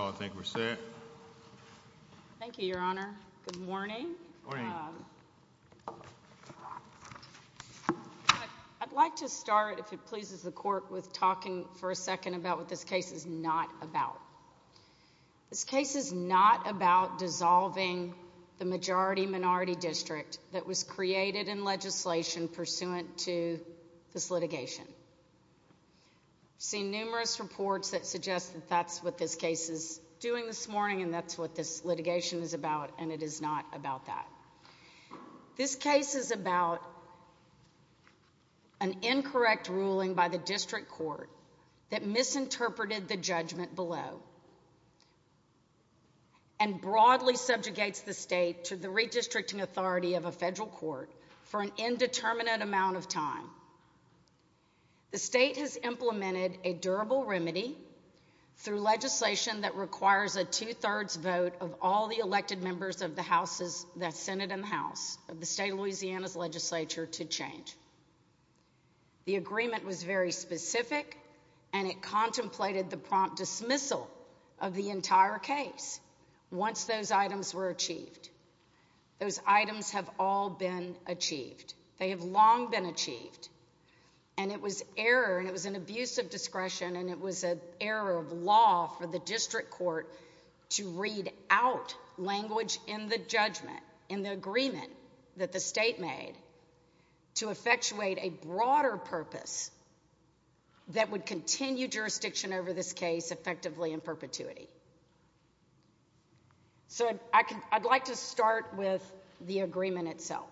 I think we're set. Thank you, Your Honor. Good morning. I'd like to start, if it pleases the Court, with talking for a second about what this case is not about. This case is not about dissolving the majority-minority district that was created in legislation pursuant to this litigation. I've seen numerous reports that suggest that that's what this case is doing this morning and that's what this litigation is about, and it is not about that. This case is about an incorrect ruling by the district court that misinterpreted the judgment below and broadly subjugates the state to the redistricting authority of a federal court for an indeterminate amount of time. The state has implemented a durable remedy through legislation that requires a two-thirds vote of all the elected members of the Senate and House of the State of Louisiana's legislature to change. The agreement was very specific and it contemplated the prompt dismissal of the entire case once those items were achieved. Those items have all been achieved. They have long been achieved. And it was error, and it was an abuse of discretion, and it was an error of law for the district court to read out language in the judgment, in the agreement that the state made, to effectuate a broader purpose that would continue jurisdiction over this case effectively in perpetuity. So, I'd like to start with the agreement itself.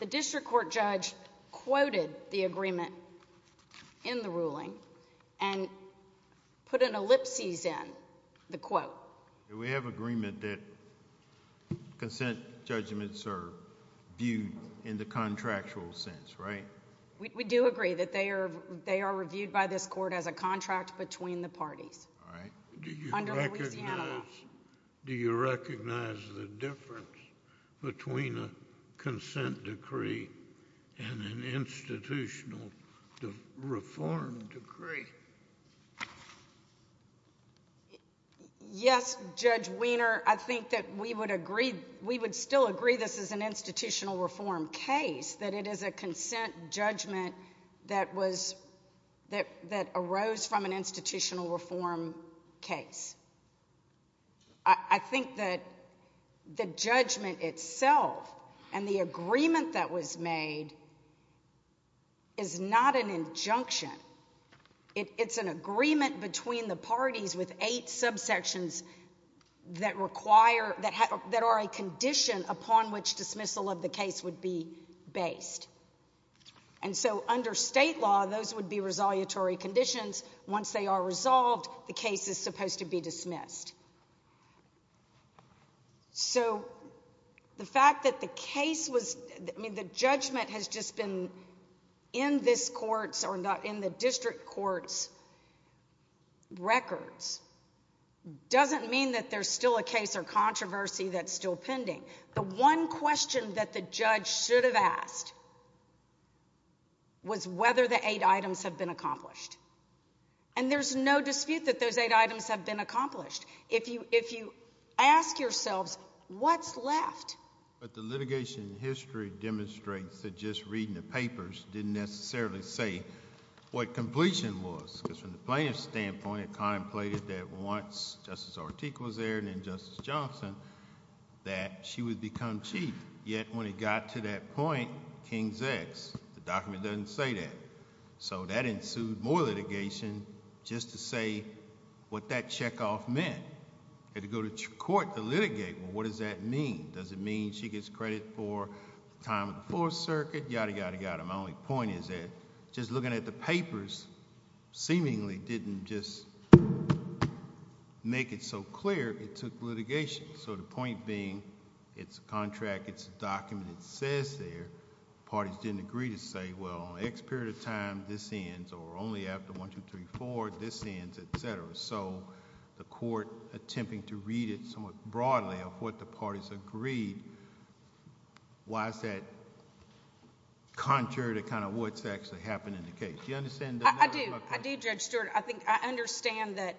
The district court judge quoted the agreement in the ruling and put an ellipsis in the quote. We have agreement that consent judgments are viewed in the contractual sense, right? We do agree that they are reviewed by this court as a contract between the parties, under Louisiana law. Do you recognize the difference between a consent decree and an institutional reform decree? Yes, Judge Weiner. I think that we would agree, we would still agree this is an institutional reform case, that it is a consent judgment that arose from an institutional reform case. I think that the judgment itself and the agreement that was made is not an injunction. It's an agreement between the parties with eight subsections that are a condition upon which dismissal of the case would be based. And so under state law, those would be resolutory conditions. Once they are resolved, the case is supposed to be dismissed. So the fact that the case was, I mean, the judgment has just been in this court's, or in the district court's records, doesn't mean that there's still a case or controversy that's still pending. The one question that the judge should have asked was whether the eight items have been accomplished. And there's no dispute that those eight items have been accomplished. If you ask yourselves, what's left? But the litigation history demonstrates that just reading the papers didn't necessarily say what completion was, because from the plaintiff's standpoint, it contemplated that once Justice Ortega was there and then Justice Johnson, that she would become chief. Yet when it got to that point, King's ex, the document doesn't say that. So that ensued more litigation just to say what that checkoff meant. Had to go to court to litigate. Well, what does that mean? Does it mean she gets credit for the time of the Fourth Circuit, yada, yada, yada. My only point is that just looking at the papers seemingly didn't just make it so clear it took litigation. So the point being, it's a contract, it's a document, it says there, parties didn't agree to say, well, on X period of time, this ends, or only after 1, 2, 3, 4, this ends, et cetera. So the court attempting to read it somewhat broadly of what the parties agreed, why is that contrary to kind of what's actually happened in the case? Do you understand? I do. I do, Judge Stewart. I think, I understand that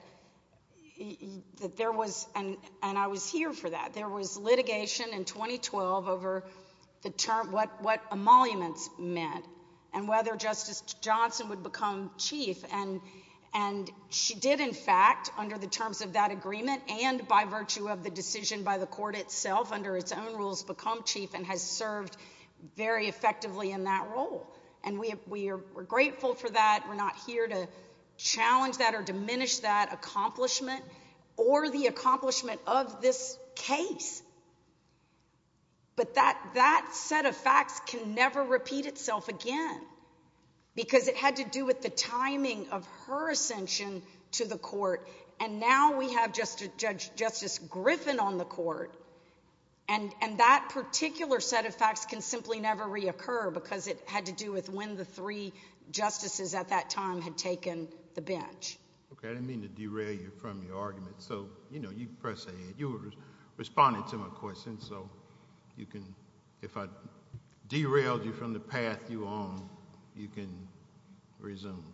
there was, and I was here for that, there was litigation in 2012 over what emoluments meant and whether Justice Johnson would become chief. And she did, in fact, under the terms of that agreement and by virtue of the decision by the court itself, under its own rules, become chief and has served very effectively in that role. And we are grateful for that. We're not here to challenge that or diminish that accomplishment or the accomplishment of this case. But that set of facts can never repeat itself again because it had to do with the timing of her ascension to the court. And now we have Justice Griffin on the court, and that particular set of facts can simply never reoccur because it had to do with when the three justices at that time had taken the bench. Okay. I didn't mean to derail you from your argument. So, you know, you can press ahead. You were responding to my question, so you can, if I derailed you from the path you took, you can resume.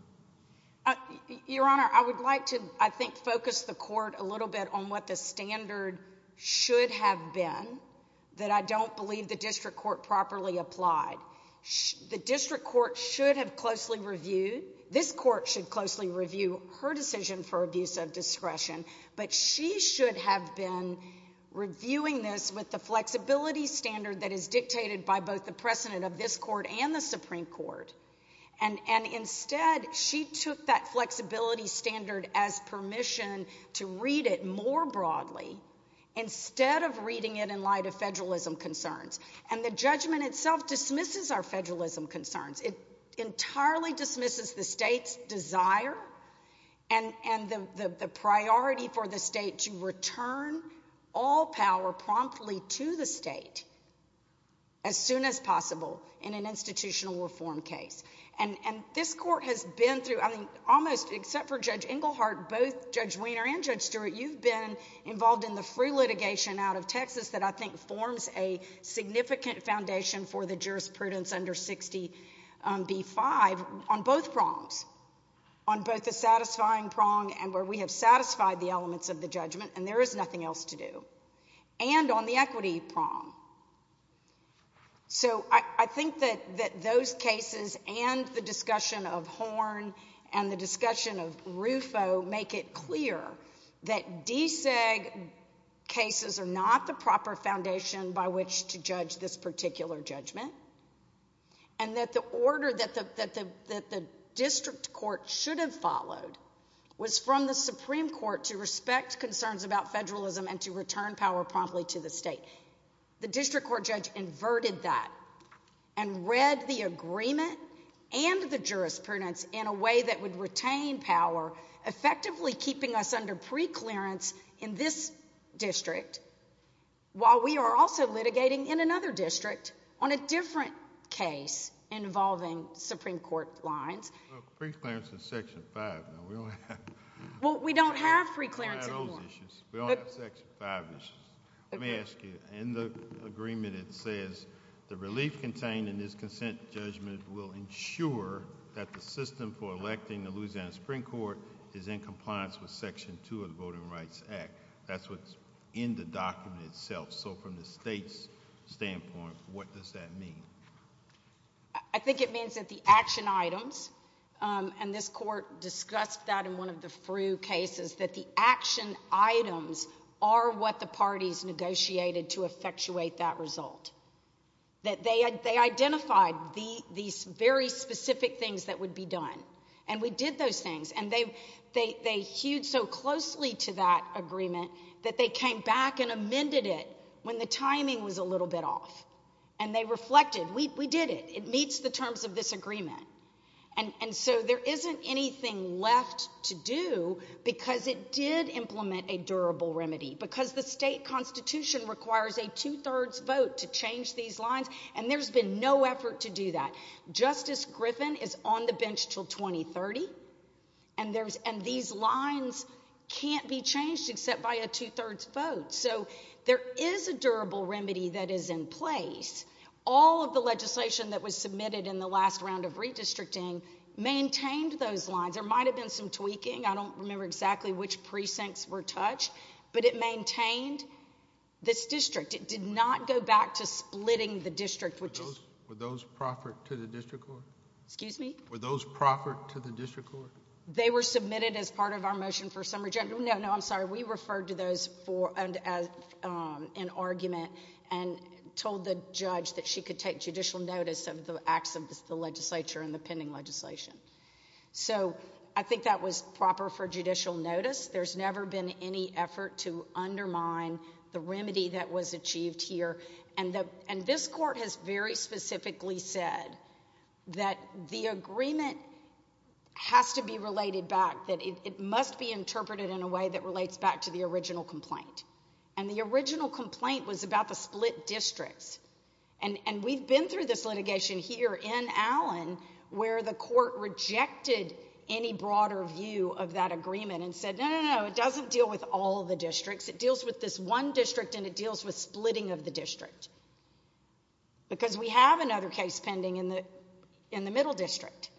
Your Honor, I would like to, I think, focus the court a little bit on what the standard should have been that I don't believe the district court properly applied. The district court should have closely reviewed, this court should closely review her decision for abuse of discretion, but she should have been reviewing this with the flexibility standard that is dictated by both the precedent of this court and the Supreme Court. And instead, she took that flexibility standard as permission to read it more broadly instead of reading it in light of federalism concerns. And the judgment itself dismisses our federalism concerns. It entirely dismisses the state's desire and the priority for the state to return all power promptly to the state as soon as possible in an institutional reform case. And this court has been through, I mean, almost, except for Judge Englehart, both Judge Weiner and Judge Stewart, you've been involved in the free litigation out of Texas that I think forms a significant foundation for the jurisprudence under 60B-5 on both prongs, on both the satisfying prong and where we have satisfied the elements of the judgment, and there is nothing else to do, and on the equity prong. So I think that those cases and the discussion of Horn and the discussion of Rufo make it clear that DSAG cases are not the proper foundation by which to judge this particular judgment and that the order that the district court should have followed was from the Supreme Court to respect concerns about federalism and to return power promptly to the state. The district court judge inverted that and read the agreement and the jurisprudence in a way that would retain power, effectively keeping us under preclearance in this district while we are also litigating in another district on a different case involving Supreme Court lines. No, preclearance is Section 5, we don't have that. Well, we don't have preclearance anymore. We don't have those issues. We only have Section 5 issues. Let me ask you, in the agreement it says, the relief contained in this consent judgment will ensure that the system for electing the Louisiana Supreme Court is in compliance with Section 2 of the Voting Rights Act. That's what's in the document itself, so from the state's standpoint, what does that mean? I think it means that the action items, and this court discussed that in one of the FREW cases, that the action items are what the parties negotiated to effectuate that result. That they identified these very specific things that would be done and we did those things and they hewed so closely to that agreement that they came back and amended it when the court voted. We did it. It meets the terms of this agreement. And so there isn't anything left to do because it did implement a durable remedy. Because the state constitution requires a two-thirds vote to change these lines and there's been no effort to do that. Justice Griffin is on the bench until 2030 and these lines can't be changed except by a two-thirds vote. So there is a durable remedy that is in place. All of the legislation that was submitted in the last round of redistricting maintained those lines. There might have been some tweaking. I don't remember exactly which precincts were touched, but it maintained this district. It did not go back to splitting the district. Were those proffered to the district court? Excuse me? Were those proffered to the district court? They were submitted as part of our motion for summary judgment. No, no, I'm sorry. We referred to those as an argument and told the judge that she could take judicial notice of the acts of the legislature and the pending legislation. So I think that was proper for judicial notice. There's never been any effort to undermine the remedy that was achieved here. And this court has very specifically said that the agreement has to be related back, that it must be interpreted in a way that relates back to the original complaint. And the original complaint was about the split districts. And we've been through this litigation here in Allen where the court rejected any broader view of that agreement and said, no, no, no, it doesn't deal with all the districts. It deals with this one district and it deals with splitting of the district. Because we have another case pending in the middle district.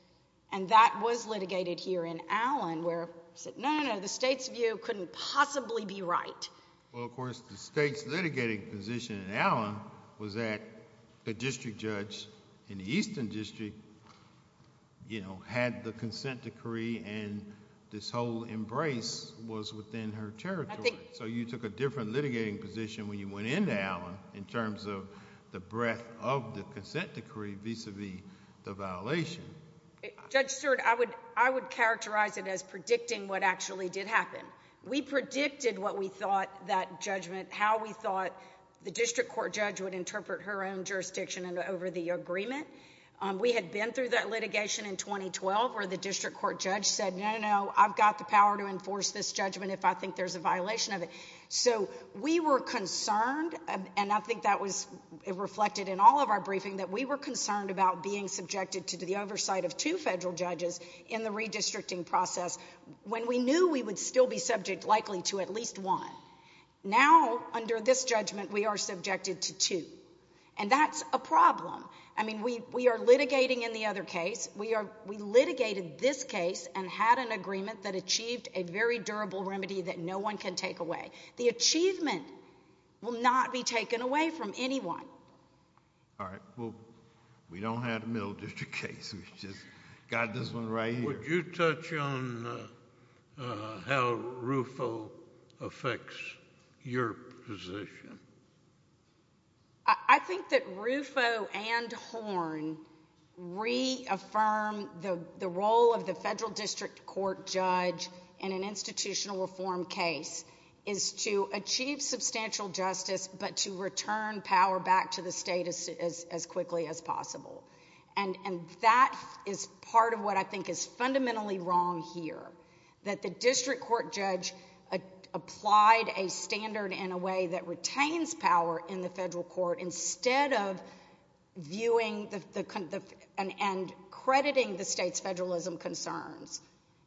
And that was litigated here in Allen where it said, no, no, no, the state's view couldn't possibly be right. Well, of course, the state's litigating position in Allen was that the district judge in the Eastern District, you know, had the consent decree and this whole embrace was within her territory. So you took a different litigating position when you went into Allen in terms of the breadth of the consent decree vis-a-vis the violation. Judge Stewart, I would characterize it as predicting what actually did happen. We predicted what we thought that judgment, how we thought the district court judge would interpret her own jurisdiction over the agreement. We had been through that litigation in 2012 where the district court judge said, no, no, I've got the power to enforce this judgment if I think there's a violation of it. So we were concerned, and I think that was reflected in all of our briefing, that we were concerned about being subjected to the oversight of two federal judges in the redistricting process when we knew we would still be subject likely to at least one. Now under this judgment, we are subjected to two. And that's a problem. I mean, we are litigating in the other case. We litigated this case and had an agreement that achieved a very durable remedy that no one can take away. The achievement will not be taken away from anyone. All right. Well, we don't have the middle district case, we've just got this one right here. Would you touch on how RUFO affects your position? I think that RUFO and Horn reaffirm the role of the federal district court judge in an is to achieve substantial justice but to return power back to the state as quickly as possible. And that is part of what I think is fundamentally wrong here. That the district court judge applied a standard in a way that retains power in the federal court instead of viewing and crediting the state's federalism concerns.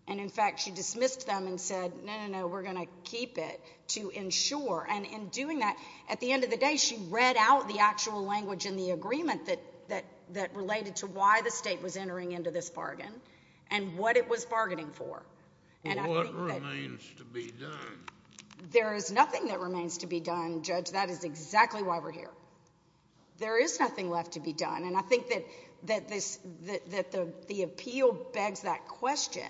And in fact, she dismissed them and said, no, no, no, we're going to keep it to ensure. And in doing that, at the end of the day, she read out the actual language in the agreement that related to why the state was entering into this bargain and what it was bargaining for. What remains to be done? There is nothing that remains to be done, Judge. That is exactly why we're here. There is nothing left to be done. And I think that the appeal begs that question.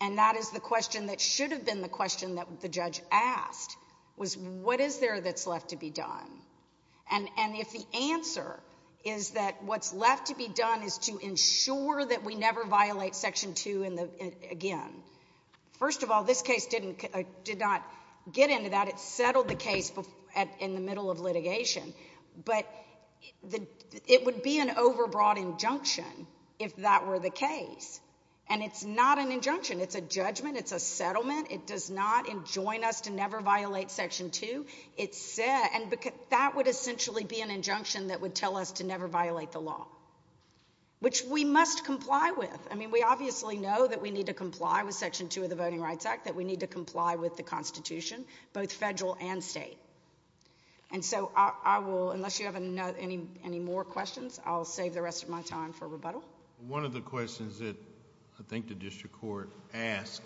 And that is the question that should have been the question that the judge asked was, what is there that's left to be done? And if the answer is that what's left to be done is to ensure that we never violate Section 2 again, first of all, this case did not get into that. It settled the case in the middle of litigation. But it would be an overbroad injunction if that were the case. And it's not an injunction. It's a judgment. It's a settlement. It does not enjoin us to never violate Section 2. That would essentially be an injunction that would tell us to never violate the law, which we must comply with. I mean, we obviously know that we need to comply with Section 2 of the Voting Rights Act, that we need to comply with the Constitution, both federal and state. And so I will, unless you have any more questions, I'll save the rest of my time for rebuttal. One of the questions that I think the district court asked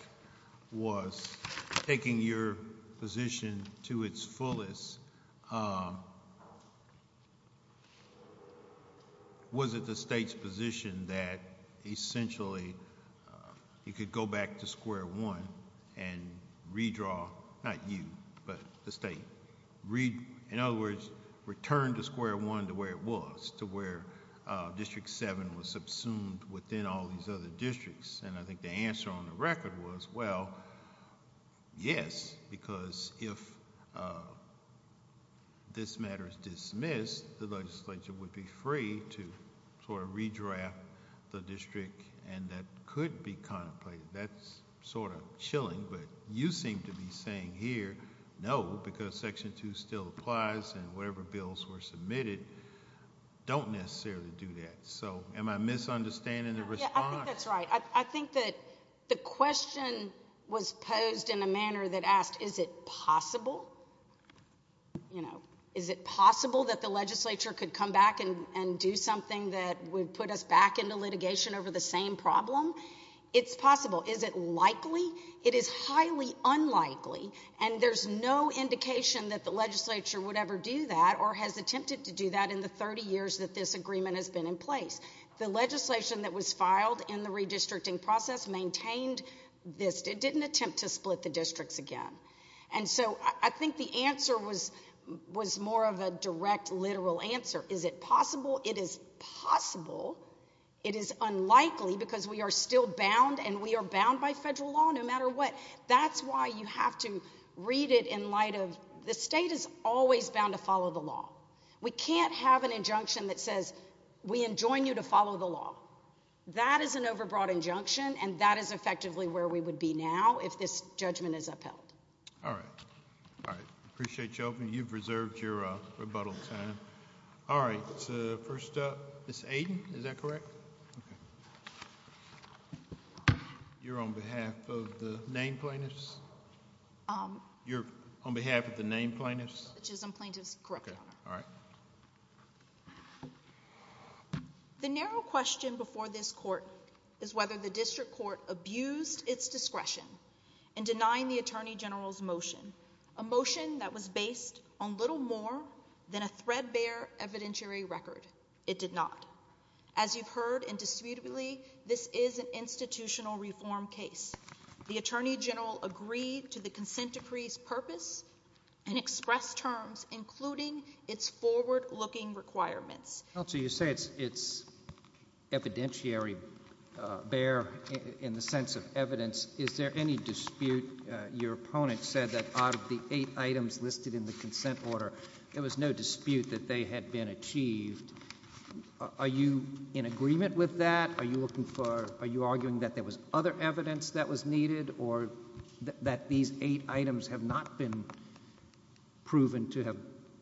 was, taking your position to its fullest, was it the state's position that essentially you could go back to square one and redraw, not you, but the state, in other words, return to square one to where it was, to where District 7 was subsumed within all these other districts? And I think the answer on the record was, well, yes, because if this matter is dismissed, the legislature would be free to sort of redraft the district and that could be contemplated. That's sort of chilling, but you seem to be saying here, no, because Section 2 still applies and whatever bills were submitted don't necessarily do that. So am I misunderstanding the response? Yeah, I think that's right. I think that the question was posed in a manner that asked, is it possible? Is it possible that the legislature could come back and do something that would put us back into litigation over the same problem? It's possible. Is it likely? It is highly unlikely, and there's no indication that the legislature would ever do that or has attempted to do that in the 30 years that this agreement has been in place. The legislation that was filed in the redistricting process maintained this. It didn't attempt to split the districts again. And so I think the answer was more of a direct, literal answer. Is it possible? It is possible. It is unlikely because we are still bound, and we are bound by federal law no matter what. That's why you have to read it in light of the state is always bound to follow the law. We can't have an injunction that says, we enjoin you to follow the law. That is an overbroad injunction, and that is effectively where we would be now if this judgment is upheld. All right. All right. I appreciate you opening. You've reserved your rebuttal time. All right. First up, Ms. Aiden, is that correct? You're on behalf of the named plaintiffs? You're on behalf of the named plaintiffs? I'm plaintiffs. Correct. Okay. All right. The narrow question before this court is whether the district court abused its discretion in denying the Attorney General's motion, a motion that was based on little more than a threadbare evidentiary record. It did not. As you've heard indisputably, this is an institutional reform case. The Attorney General agreed to the consent decree's purpose and expressed terms, including its forward-looking requirements. Counsel, you say it's evidentiary, bare in the sense of evidence. Is there any dispute? Your opponent said that out of the eight items listed in the consent order, there was no dispute that they had been achieved. Are you in agreement with that? Are you arguing that there was other evidence that was needed or that these eight items have not been proven to have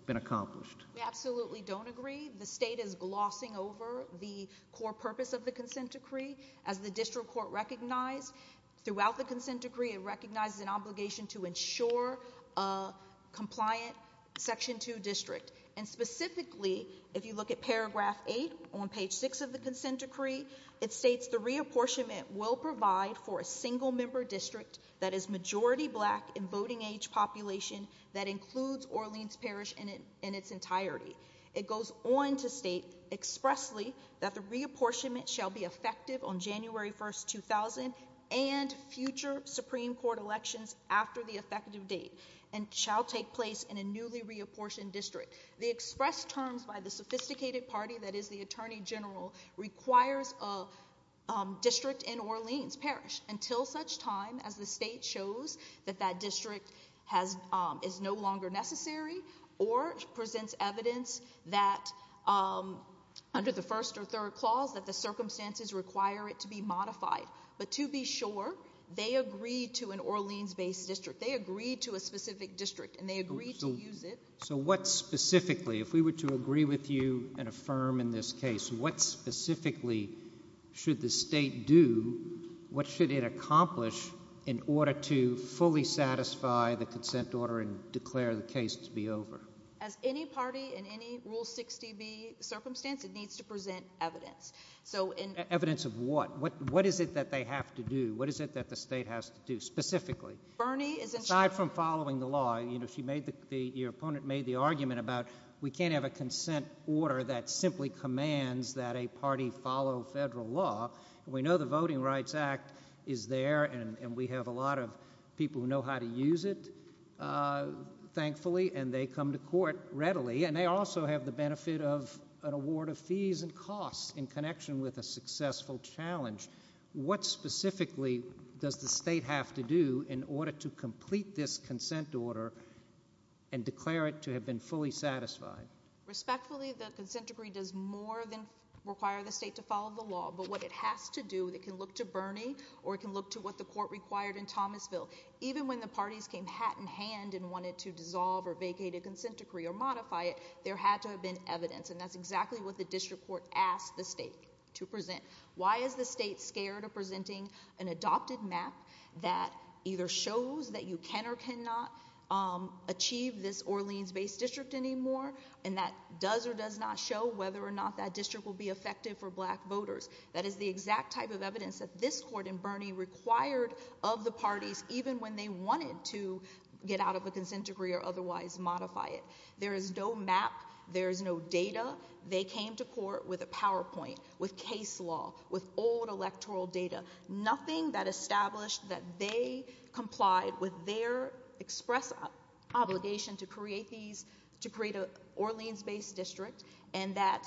been accomplished? We absolutely don't agree. The state is glossing over the core purpose of the consent decree. As the district court recognized throughout the consent decree, it recognizes an obligation to ensure a compliant Section 2 district. And specifically, if you look at paragraph 8 on page 6 of the consent decree, it states the reapportionment will provide for a single-member district that is majority black and voting-age population that includes Orleans Parish in its entirety. It goes on to state expressly that the reapportionment shall be effective on January 1, 2000 and future Supreme Court elections after the effective date and shall take place in a newly reapportioned district. The expressed terms by the sophisticated party that is the Attorney General requires a district in Orleans Parish until such time as the state shows that that district is no longer necessary or presents evidence that under the first or third clause that the circumstances require it to be modified. But to be sure, they agreed to an Orleans-based district. They agreed to a specific district and they agreed to use it. So what specifically, if we were to agree with you and affirm in this case, what specifically should the state do, what should it accomplish in order to fully satisfy the consent order and declare the case to be over? As any party in any Rule 60B circumstance, it needs to present evidence. So in- Evidence of what? What is it that they have to do? What is it that the state has to do specifically? Bernie is- Aside from following the law, you know, she made the, your opponent made the argument about we can't have a consent order that simply commands that a party follow federal law. We know the Voting Rights Act is there and we have a lot of people who know how to use it, uh, thankfully, and they come to court readily. And they also have the benefit of an award of fees and costs in connection with a successful challenge. What specifically does the state have to do in order to complete this consent order and declare it to have been fully satisfied? Respectfully, the consent decree does more than require the state to follow the law. But what it has to do, it can look to Bernie or it can look to what the court required in Thomasville. Even when the parties came hat in hand and wanted to dissolve or vacate a consent decree or modify it, there had to have been evidence and that's exactly what the district court asked the state to present. Why is the state scared of presenting an adopted map that either shows that you can or cannot, um, achieve this Orleans-based district anymore and that does or does not show whether or not that district will be effective for black voters? That is the exact type of evidence that this court in Bernie required of the parties even when they wanted to get out of a consent decree or otherwise modify it. There is no map. There is no data. They came to court with a PowerPoint, with case law, with old electoral data, nothing that established that they complied with their express obligation to create these, to create a Orleans-based district and that,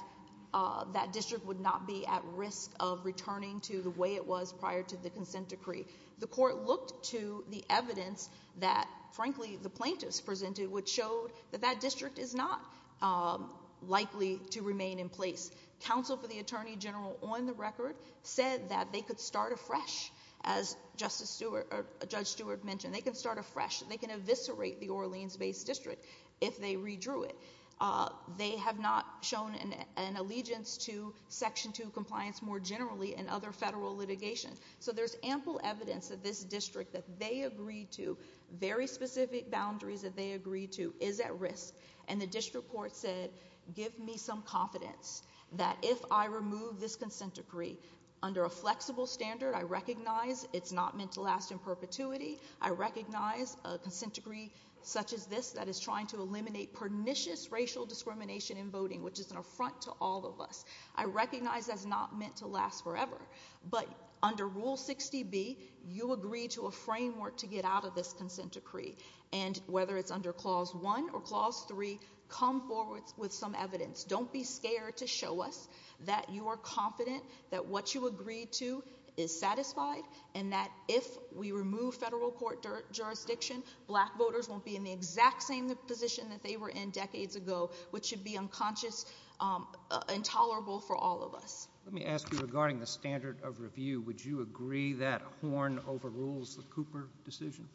uh, that district would not be at risk of returning to the way it was prior to the consent decree. The court looked to the evidence that, frankly, the plaintiffs presented which showed that that district is not, um, likely to remain in place. Counsel for the Attorney General on the record said that they could start afresh as Justice Stewart, or Judge Stewart mentioned. They can start afresh. They can eviscerate the Orleans-based district if they redrew it. Uh, they have not shown an, an allegiance to Section 2 compliance more generally in other federal litigation. So there's ample evidence that this district that they agreed to, very specific boundaries that they agreed to, is at risk and the district court said, give me some confidence that if I remove this consent decree under a flexible standard, I recognize it's not meant to last in perpetuity. I recognize a consent decree such as this that is trying to eliminate pernicious racial discrimination in voting, which is an affront to all of us. I recognize that's not meant to last forever, but under Rule 60B, you agree to a framework to get out of this consent decree and whether it's under Clause 1 or Clause 3, come forward with some evidence. Don't be scared to show us that you are confident that what you agreed to is satisfied and that if we remove federal court jurisdiction, black voters won't be in the exact same position that they were in decades ago, which should be unconscious, um, intolerable for all of us. Let me ask you regarding the standard of review, would you agree that Horn overrules the Cooper decision?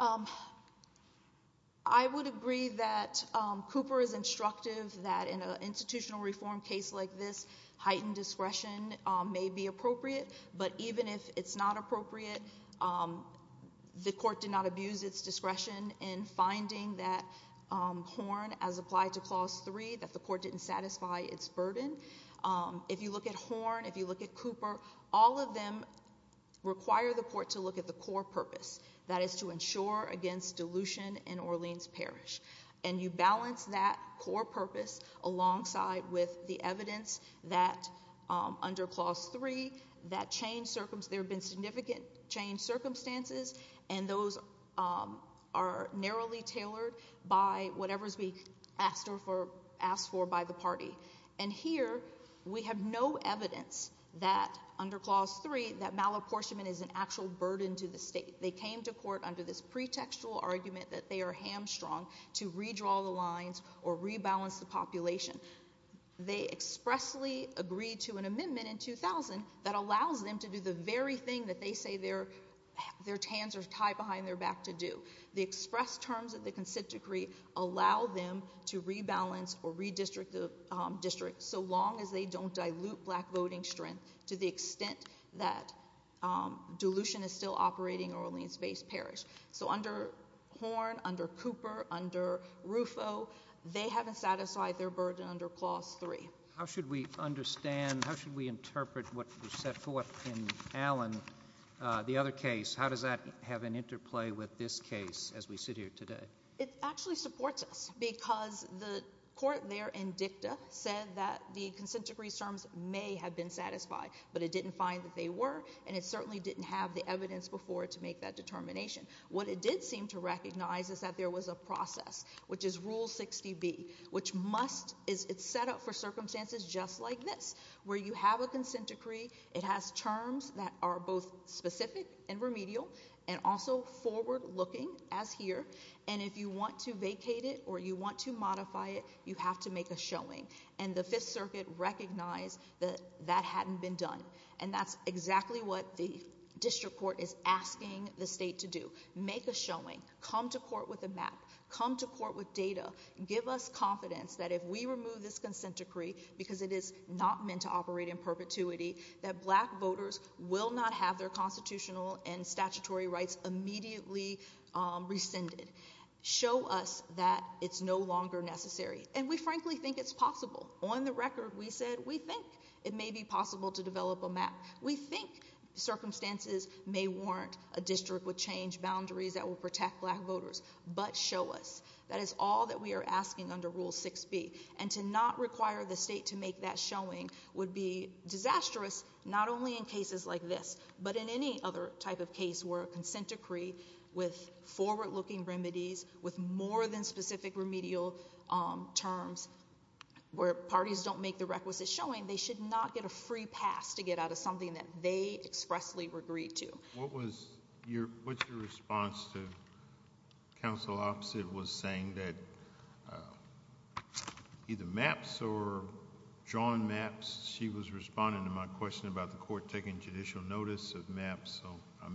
Um, I would agree that, um, Cooper is instructive that in an institutional reform case like this, heightened discretion, um, may be appropriate, but even if it's not appropriate, um, the court did not abuse its discretion in finding that, um, Horn as applied to Clause 3, that the court didn't satisfy its burden. Um, if you look at Horn, if you look at Cooper, all of them require the court to look at the core purpose, that is to ensure against dilution in Orleans Parish. And you balance that core purpose alongside with the evidence that, um, under Clause 3, that changed circumstance, there have been significant changed circumstances, and those, um, are narrowly tailored by whatever is being asked for, asked for by the party. And here, we have no evidence that under Clause 3, that malapportionment is an actual burden to the state. They came to court under this pretextual argument that they are hamstrung to redraw the lines or rebalance the population. They expressly agreed to an amendment in 2000 that allows them to do the very thing that they say their, their hands are tied behind their back to do. The express terms of the consent decree allow them to rebalance or redistrict the, um, district so long as they don't dilute black voting strength to the extent that, um, dilution is still operating in Orleans-based parish. So under Horne, under Cooper, under Ruffo, they haven't satisfied their burden under Clause 3. How should we understand, how should we interpret what was set forth in Allen, uh, the other case? How does that have an interplay with this case as we sit here today? It actually supports us because the court there in dicta said that the consent decree terms may have been satisfied, but it didn't find that they were, and it certainly didn't have the evidence before to make that determination. What it did seem to recognize is that there was a process, which is Rule 60B, which must, it's set up for circumstances just like this, where you have a consent decree, it has terms that are both specific and remedial, and also forward-looking, as here, and if you want to vacate it or you want to modify it, you have to make a showing. And the Fifth Circuit recognized that that hadn't been done. And that's exactly what the district court is asking the state to do. Make a showing. Come to court with a map. Come to court with data. Give us confidence that if we remove this consent decree, because it is not meant to operate in perpetuity, that black voters will not have their constitutional and statutory rights immediately, um, rescinded. Show us that it's no longer necessary. And we frankly think it's possible. On the record, we said we think it may be possible to develop a map. We think circumstances may warrant a district would change boundaries that will protect black voters, but show us. That is all that we are asking under Rule 6B. And to not require the state to make that showing would be disastrous, not only in cases like this, but in any other type of case where a consent decree with forward-looking remedies, with more than specific remedial, um, terms, where parties don't make the requisite showing, they should not get a free pass to get out of something that they expressly agreed to. What was your, what's your response to counsel opposite was saying that, uh, either maps or drawn maps? She was responding to my question about the court taking judicial notice of maps, so I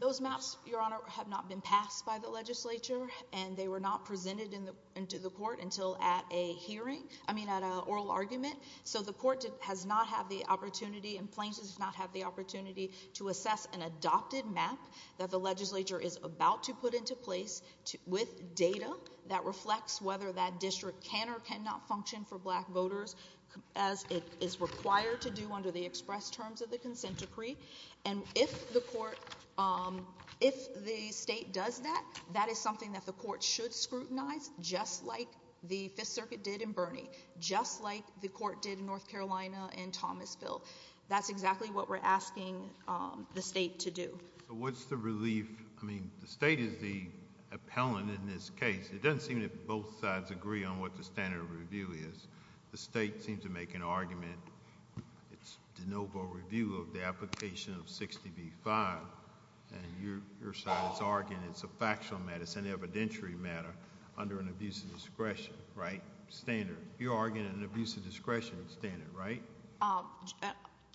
Those maps, Your Honor, have not been passed by the legislature, and they were not presented in the, into the court until at a hearing, I mean at a oral argument. So the court has not had the opportunity, and Plains does not have the opportunity to assess an adopted map that the legislature is about to put into place with data that reflects whether that district can or cannot function for black voters as it is required to do under the express terms of the consent decree. And if the court, um, if the state does that, that is something that the court should scrutinize just like the Fifth Circuit did in Bernie, just like the court did in North Carolina in Thomasville. That's exactly what we're asking, um, the state to do. So what's the relief, I mean, the state is the appellant in this case. It doesn't seem that both sides agree on what the standard of review is. The state seems to make an argument, it's de novo review of the application of 60B-5, and your side is arguing it's a factual matter, it's an evidentiary matter under an abuse of discretion, right, standard. You're arguing an abuse of discretion standard, right?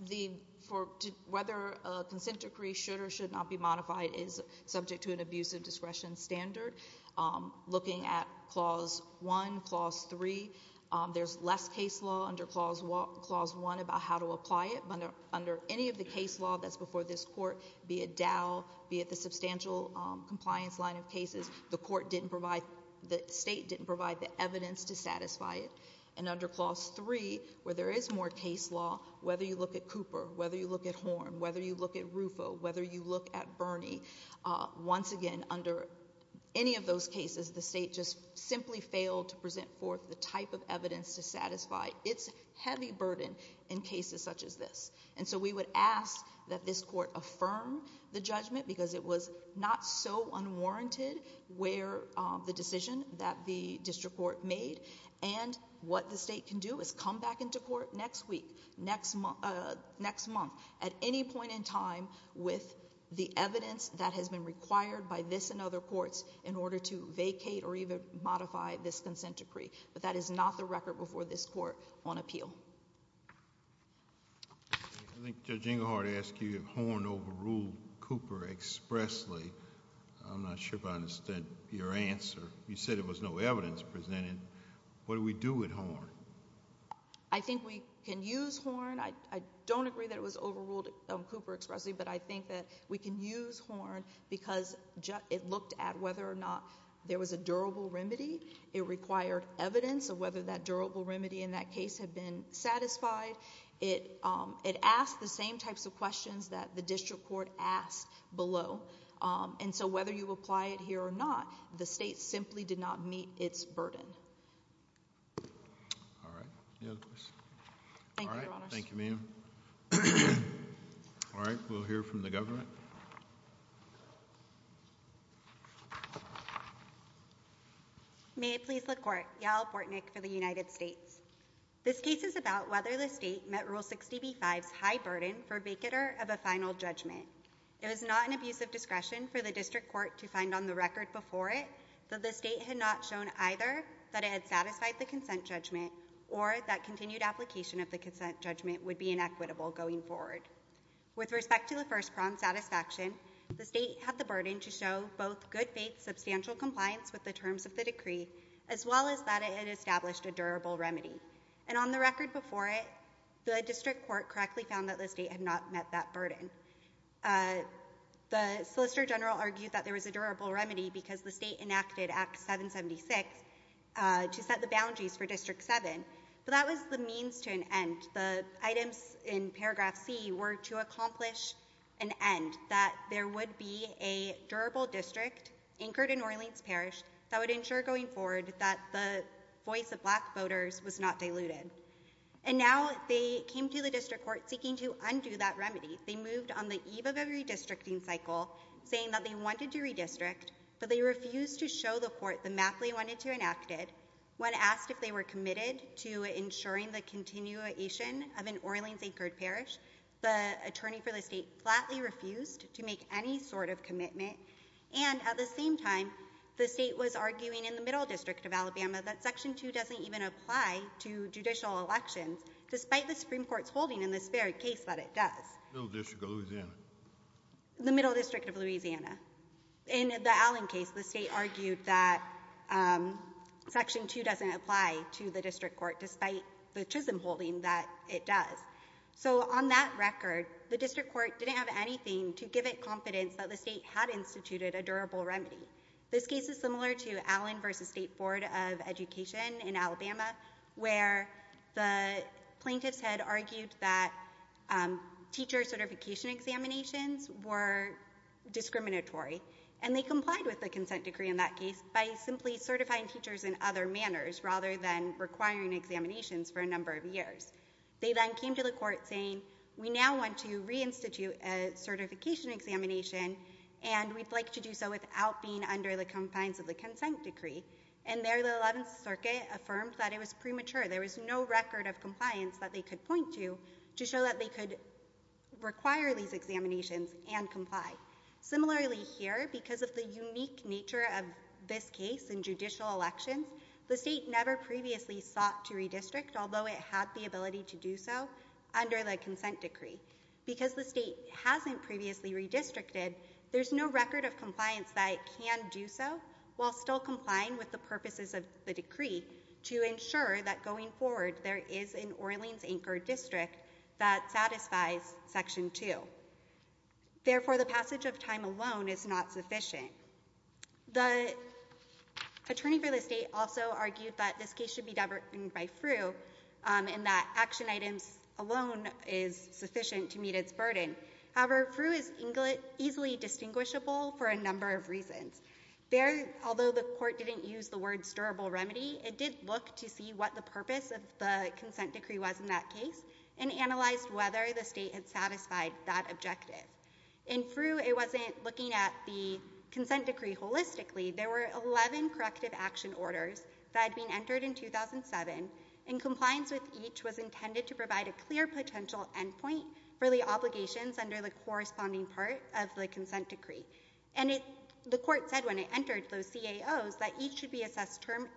The, for, whether a consent decree should or should not be modified is subject to an abuse of discretion standard. Um, looking at clause one, clause three, um, there's less case law under clause one about how to apply it, but under any of the case law that's before this court, be it Dow, be it the substantial, um, compliance line of cases, the court didn't provide, the state didn't provide the evidence to satisfy it. And under clause three, where there is more case law, whether you look at Cooper, whether you look at Horn, whether you look at Rufo, whether you look at Bernie, uh, once again, under any of those cases, the state just simply failed to present forth the type of evidence to satisfy its heavy burden in cases such as this. And so we would ask that this court affirm the judgment, because it was not so unwarranted where, um, the decision that the district court made, and what the state can do is come back into court next week, next month, uh, next month, at any point in time with the case in other courts in order to vacate or even modify this consent decree. But that is not the record before this court on appeal. I think Judge Englehardt asked you if Horn overruled Cooper expressly. I'm not sure if I understand your answer. You said there was no evidence presented. What do we do with Horn? I think we can use Horn. I, I don't agree that it was overruled, um, Cooper expressly, but I think that we can use Horn because it looked at whether or not there was a durable remedy, it required evidence of whether that durable remedy in that case had been satisfied, it, um, it asked the same types of questions that the district court asked below, um, and so whether you apply it here or not, the state simply did not meet its burden. All right. Any other questions? Thank you, Your Honors. All right. Thank you, ma'am. All right. We'll hear from the government. Thank you. May it please the court. Yael Portnick for the United States. This case is about whether the state met Rule 60b-5's high burden for vacater of a final judgment. It was not an abuse of discretion for the district court to find on the record before it that the state had not shown either that it had satisfied the consent judgment or that continued application of the consent judgment would be inequitable going forward. With respect to the first-pronged satisfaction, the state had the burden to show both good-faith substantial compliance with the terms of the decree as well as that it had established a durable remedy, and on the record before it, the district court correctly found that the state had not met that burden. Uh, the Solicitor General argued that there was a durable remedy because the state enacted Act 776, uh, to set the boundaries for District 7, but that was the means to an end. And the items in paragraph C were to accomplish an end, that there would be a durable district anchored in Orleans Parish that would ensure going forward that the voice of black voters was not diluted. And now they came to the district court seeking to undo that remedy. They moved on the eve of a redistricting cycle, saying that they wanted to redistrict, but they refused to show the court the map they wanted to enact it. When asked if they were committed to ensuring the continuation of an Orleans-anchored parish, the attorney for the state flatly refused to make any sort of commitment, and at the same time, the state was arguing in the Middle District of Alabama that Section 2 doesn't even apply to judicial elections, despite the Supreme Court's holding in this very case that it does. The Middle District of Louisiana. In the Allen case, the state argued that, um, Section 2 doesn't apply to the district court, despite the chiseled holding that it does. So on that record, the district court didn't have anything to give it confidence that the state had instituted a durable remedy. This case is similar to Allen v. State Board of Education in Alabama, where the plaintiffs had argued that, um, teacher certification examinations were discriminatory. And they complied with the consent decree in that case by simply certifying teachers in other manners, rather than requiring examinations for a number of years. They then came to the court saying, we now want to reinstitute a certification examination, and we'd like to do so without being under the confines of the consent decree. And there, the Eleventh Circuit affirmed that it was premature, there was no record of compliance that they could point to, to show that they could require these examinations and comply. Similarly here, because of the unique nature of this case in judicial elections, the state never previously sought to redistrict, although it had the ability to do so under the consent decree. Because the state hasn't previously redistricted, there's no record of compliance that it can do so, while still complying with the purposes of the decree, to ensure that going forward there is an Orleans Anchor District that satisfies Section 2. Therefore, the passage of time alone is not sufficient. The attorney for the state also argued that this case should be diverted by FREW, um, and that action items alone is sufficient to meet its burden. However, FREW is easily distinguishable for a number of reasons. There, although the court didn't use the word, stirable remedy, it did look to see what the consent decree was in that case, and analyzed whether the state had satisfied that objective. In FREW, it wasn't looking at the consent decree holistically. There were 11 corrective action orders that had been entered in 2007, and compliance with each was intended to provide a clear potential endpoint for the obligations under the corresponding part of the consent decree. And it, the court said when it entered those CAOs that each should be assessed term,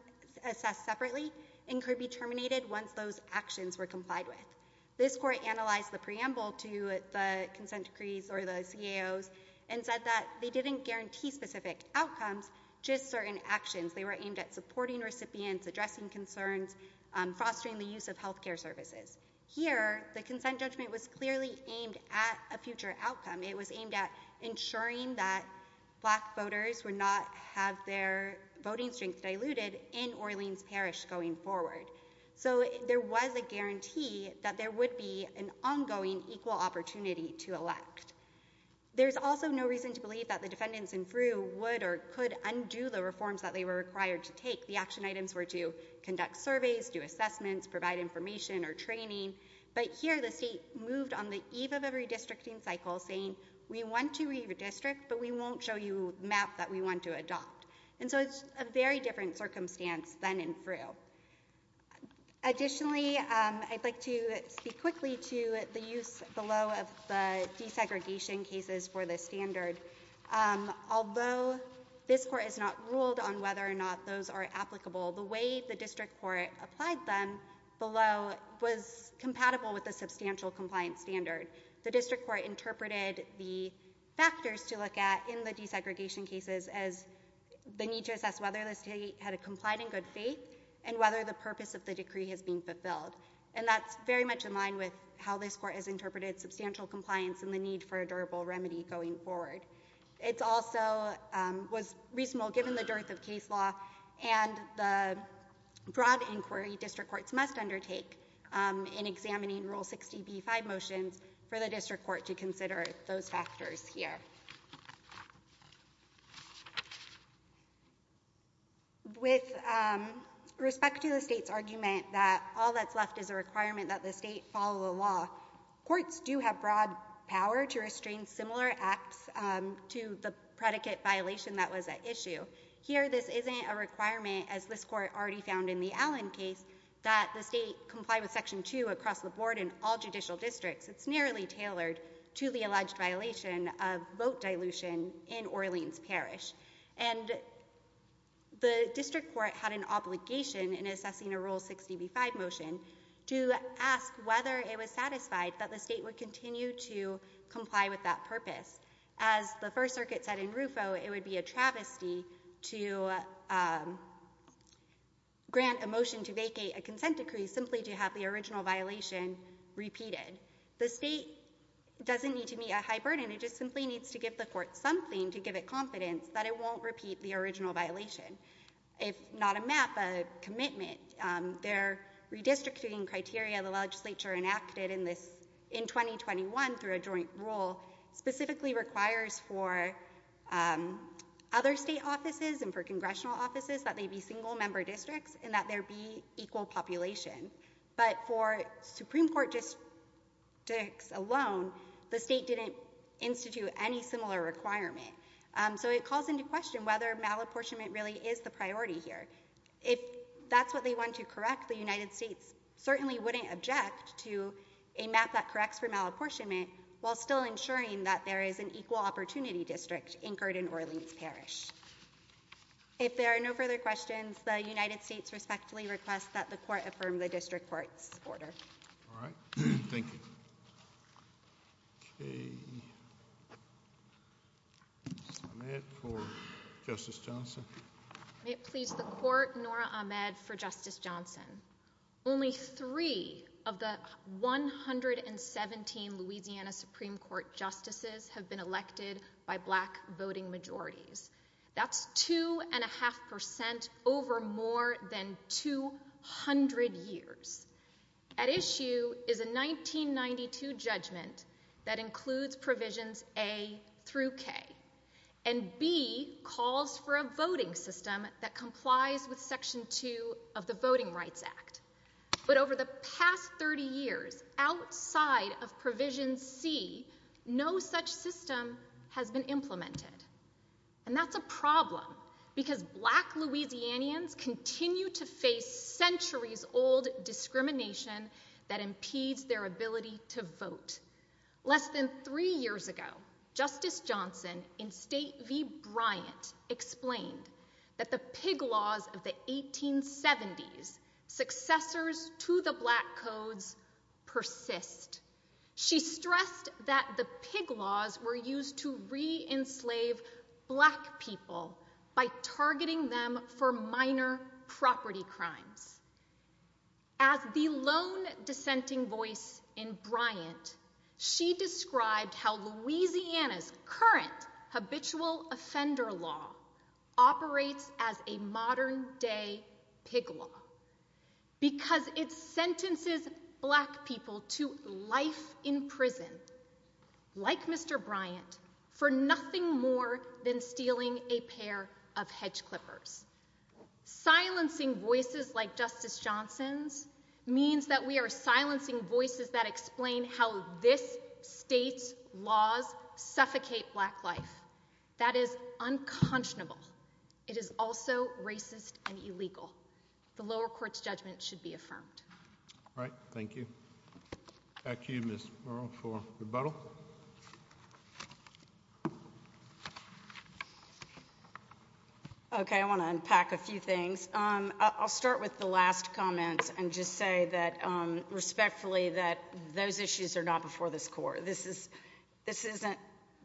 assessed separately, and could be terminated once those actions were complied with. This court analyzed the preamble to the consent decrees or the CAOs, and said that they didn't guarantee specific outcomes, just certain actions. They were aimed at supporting recipients, addressing concerns, um, fostering the use of healthcare services. Here, the consent judgment was clearly aimed at a future outcome. It was aimed at ensuring that black voters would not have their voting strength diluted in Orleans Parish going forward. So there was a guarantee that there would be an ongoing equal opportunity to elect. There's also no reason to believe that the defendants in FREW would or could undo the reforms that they were required to take. The action items were to conduct surveys, do assessments, provide information or training, but here the state moved on the eve of a redistricting cycle, saying, we want to redistrict, but we won't show you a map that we want to adopt. And so it's a very different circumstance than in FREW. Additionally, um, I'd like to speak quickly to the use below of the desegregation cases for this standard. Um, although this court has not ruled on whether or not those are applicable, the way the district court applied them below was compatible with the substantial compliance standard. The district court interpreted the factors to look at in the desegregation cases as the need to assess whether the state had a compliant and good faith and whether the purpose of the decree has been fulfilled. And that's very much in line with how this court has interpreted substantial compliance and the need for a durable remedy going forward. It's also, um, was reasonable given the dearth of case law and the broad inquiry district courts must undertake, um, in examining Rule 60b-5 motions for the district court to consider those factors here. With, um, respect to the state's argument that all that's left is a requirement that the state follow the law, courts do have broad power to restrain similar acts, um, to the predicate violation that was at issue. Here this isn't a requirement as this court already found in the Allen case that the state comply with Section 2 across the board in all judicial districts. It's nearly tailored to the alleged violation of vote dilution in Orleans Parish. And the district court had an obligation in assessing a Rule 60b-5 motion to ask whether it was satisfied that the state would continue to comply with that purpose. As the First Circuit said in Rufo, it would be a travesty to, um, grant a motion to vacate a consent decree simply to have the original violation repeated. The state doesn't need to meet a high burden, it just simply needs to give the court something to give it confidence that it won't repeat the original violation. If not a map, a commitment, um, their redistricting criteria the legislature enacted in this, in 2021 through a joint rule specifically requires for, um, other state offices and for congressional offices that they be single member districts and that there be equal population. But for Supreme Court districts alone, the state didn't institute any similar requirement. Um, so it calls into question whether malapportionment really is the priority here. If that's what they want to correct, the United States certainly wouldn't object to a map that corrects for malapportionment while still ensuring that there is an equal opportunity district anchored in Orleans Parish. If there are no further questions, the United States respectfully requests that the court affirm the district court's order. All right. Thank you. Okay. Ms. Ahmed for Justice Johnson. May it please the court, Nora Ahmed for Justice Johnson. Only three of the 117 Louisiana Supreme Court justices have been elected by black voting majorities. That's two and a half percent over more than 200 years. At issue is a 1992 judgment that includes provisions A through K and B calls for a voting system that complies with section two of the Voting Rights Act. But over the past 30 years, outside of provision C, no such system has been implemented. And that's a problem because black Louisianians continue to face centuries old discrimination Less than three years ago, Justice Johnson in State v. Bryant explained that the pig laws of the 1870s, successors to the black codes, persist. She stressed that the pig laws were used to re-enslave black people by targeting them for minor property crimes. As the lone dissenting voice in Bryant, she described how Louisiana's current habitual offender law operates as a modern day pig law because it's sentences black people to life in prison like Mr. Bryant for nothing more than stealing a pair of hedge clippers, silencing voices like Justice Johnson's means that we are silencing voices that explain how this state's laws suffocate black life. That is unconscionable. It is also racist and illegal. The lower court's judgment should be affirmed. All right, thank you. Back to you, Ms. Murrell, for rebuttal. Okay, I want to unpack a few things. I'll start with the last comments and just say that respectfully that those issues are not before this court. This isn't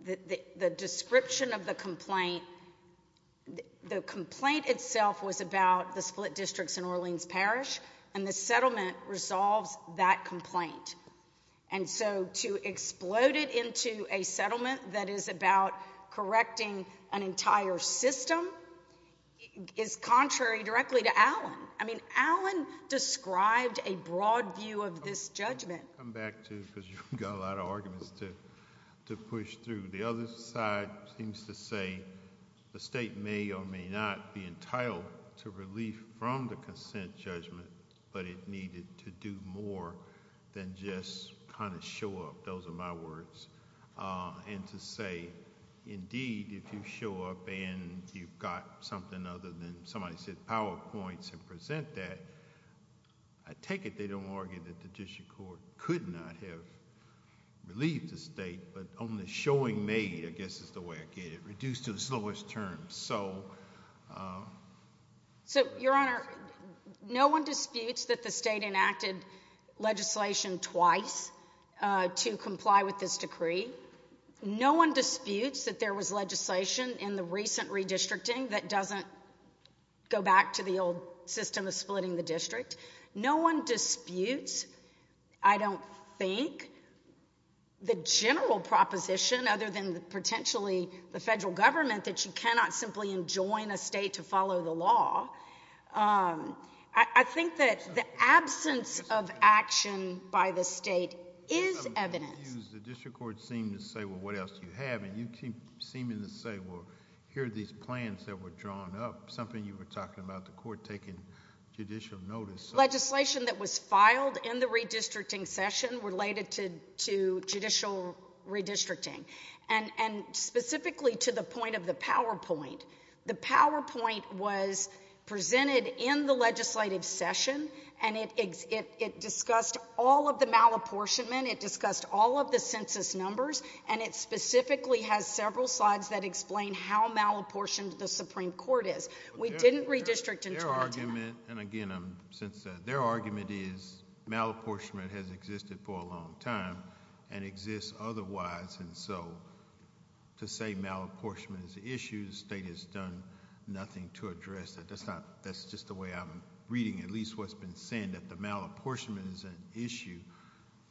the description of the complaint. The complaint itself was about the split districts in Orleans Parish and the settlement resolves that complaint. And so to explode it into a settlement that is about correcting an entire system is contrary directly to Allen. I mean, Allen described a broad view of this judgment. I'll come back to it because you've got a lot of arguments to push through. The other side seems to say the state may or may not be entitled to relief from the kind of show up, those are my words, and to say, indeed, if you show up and you've got something other than somebody said PowerPoints and present that, I take it they don't argue that the district court could not have relieved the state, but only showing made, I guess is the way I get it, reduced to the slowest terms. So, Your Honor, no one disputes that the state enacted legislation twice to comply with this decree. No one disputes that there was legislation in the recent redistricting that doesn't go back to the old system of splitting the district. No one disputes, I don't think, the general proposition other than potentially the federal government that you cannot simply enjoin a state to follow the law. I think that the absence of action by the state is evidence. The district court seemed to say, well, what else do you have, and you keep seeming to say, well, here are these plans that were drawn up, something you were talking about, the court taking judicial notice. Legislation that was filed in the redistricting session related to judicial redistricting, and specifically to the point of the PowerPoint. The PowerPoint was presented in the legislative session, and it discussed all of the malapportionment, it discussed all of the census numbers, and it specifically has several slides that explain how malapportioned the Supreme Court is. We didn't redistrict until— Their argument, and again, since—their argument is malapportionment has existed for a long time and exists otherwise, and so to say malapportionment is an issue, the state has done nothing to address it. That's not—that's just the way I'm reading at least what's been said, that the malapportionment is an issue,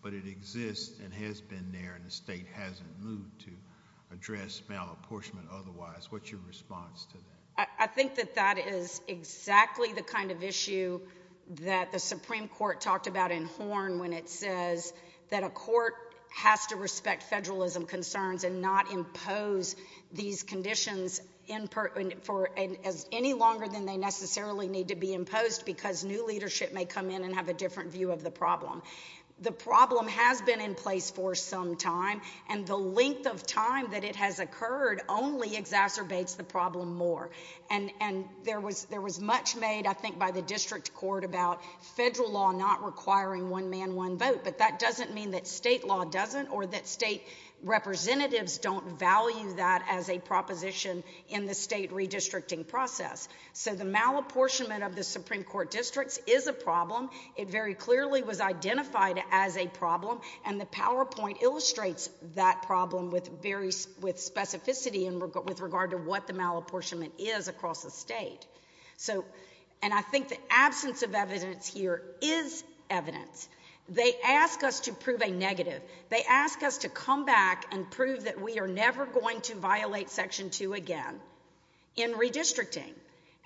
but it exists and has been there, and the state hasn't moved to address malapportionment otherwise. What's your response to that? I think that that is exactly the kind of issue that the Supreme Court talked about in Horne when it says that a court has to respect federalism concerns and not impose these conditions for any longer than they necessarily need to be imposed because new leadership may come in and have a different view of the problem. The problem has been in place for some time, and the length of time that it has occurred only exacerbates the problem more, and there was much made, I think, by the district court about federal law not requiring one-man-one-vote, but that doesn't mean that state law doesn't or that state representatives don't value that as a proposition in the state redistricting process. So the malapportionment of the Supreme Court districts is a problem. It very clearly was identified as a problem, and the PowerPoint illustrates that problem with very—with specificity and with regard to what the malapportionment is across the state. So—and I think the absence of evidence here is evidence. They ask us to prove a negative. They ask us to come back and prove that we are never going to violate Section 2 again in redistricting,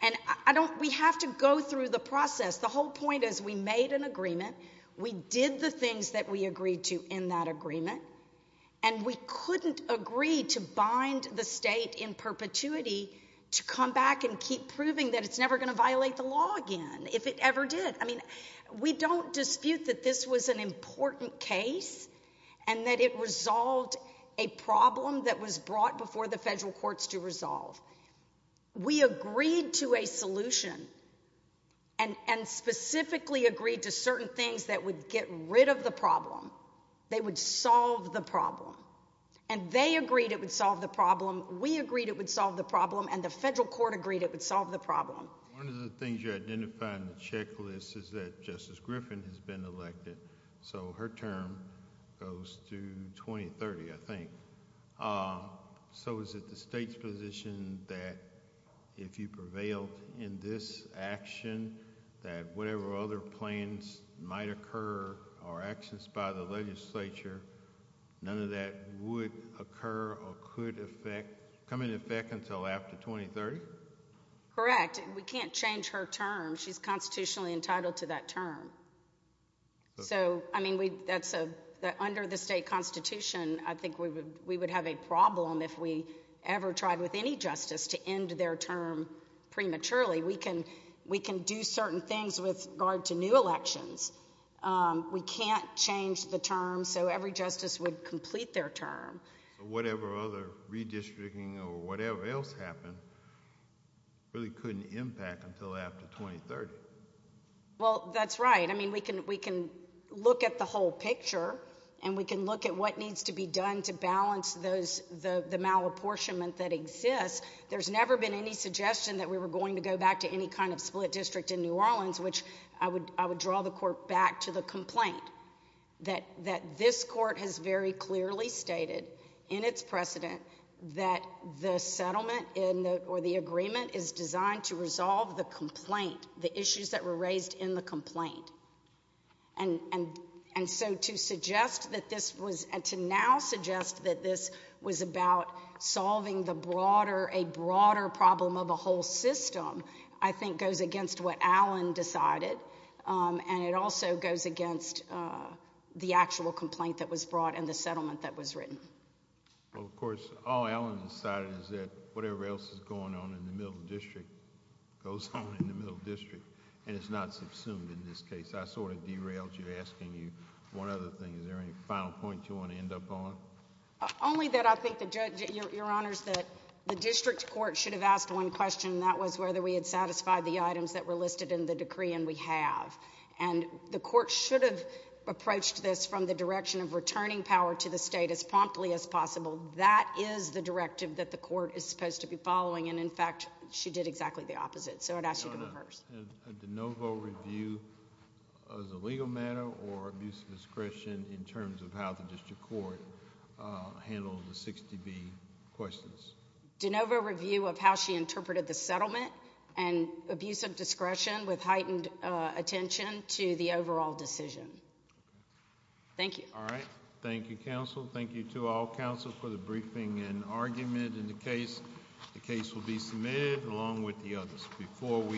and I don't—we have to go through the process. The whole point is we made an agreement. We did the things that we agreed to in that agreement, and we couldn't agree to bind the to come back and keep proving that it's never going to violate the law again if it ever did. I mean, we don't dispute that this was an important case and that it resolved a problem that was brought before the federal courts to resolve. We agreed to a solution and specifically agreed to certain things that would get rid of the problem. They would solve the problem, and they agreed it would solve the problem. We agreed it would solve the problem, and the federal court agreed it would solve the problem. One of the things you identified in the checklist is that Justice Griffin has been elected, so her term goes through 2030, I think. So is it the state's position that if you prevail in this action, that whatever other plans might occur or actions by the legislature, none of that would occur or could affect come into effect until after 2030? Correct. We can't change her term. She's constitutionally entitled to that term. So, I mean, under the state constitution, I think we would have a problem if we ever tried with any justice to end their term prematurely. We can do certain things with regard to new elections. We can't change the term so every justice would complete their term. Whatever other redistricting or whatever else happened really couldn't impact until after 2030. Well, that's right. I mean, we can look at the whole picture, and we can look at what needs to be done to balance the malapportionment that exists. There's never been any suggestion that we were going to go back to any kind of split district in New Orleans, which I would draw the court back to the complaint that this in its precedent that the settlement or the agreement is designed to resolve the complaint, the issues that were raised in the complaint. And so to suggest that this was, and to now suggest that this was about solving the broader, a broader problem of a whole system, I think goes against what Allen decided, and it also goes against the actual complaint that was brought and the settlement that was written. Well, of course, all Allen decided is that whatever else is going on in the middle district goes on in the middle district, and it's not subsumed in this case. I sort of derailed you asking you one other thing. Is there any final point you want to end up on? Only that I think the judge, your honors, that the district court should have asked one question, and that was whether we had satisfied the items that were listed in the decree, and we have. And the court should have approached this from the direction of returning power to the That is the directive that the court is supposed to be following, and in fact, she did exactly the opposite. So I'd ask you to reverse. Your honor, did DeNovo review as a legal matter or abuse of discretion in terms of how the district court handled the 60B questions? DeNovo review of how she interpreted the settlement and abuse of discretion with heightened attention to the overall decision. Thank you. All right. Thank you, counsel. Thank you to all counsel for the briefing and argument in the case. The case will be submitted along with the others. Before we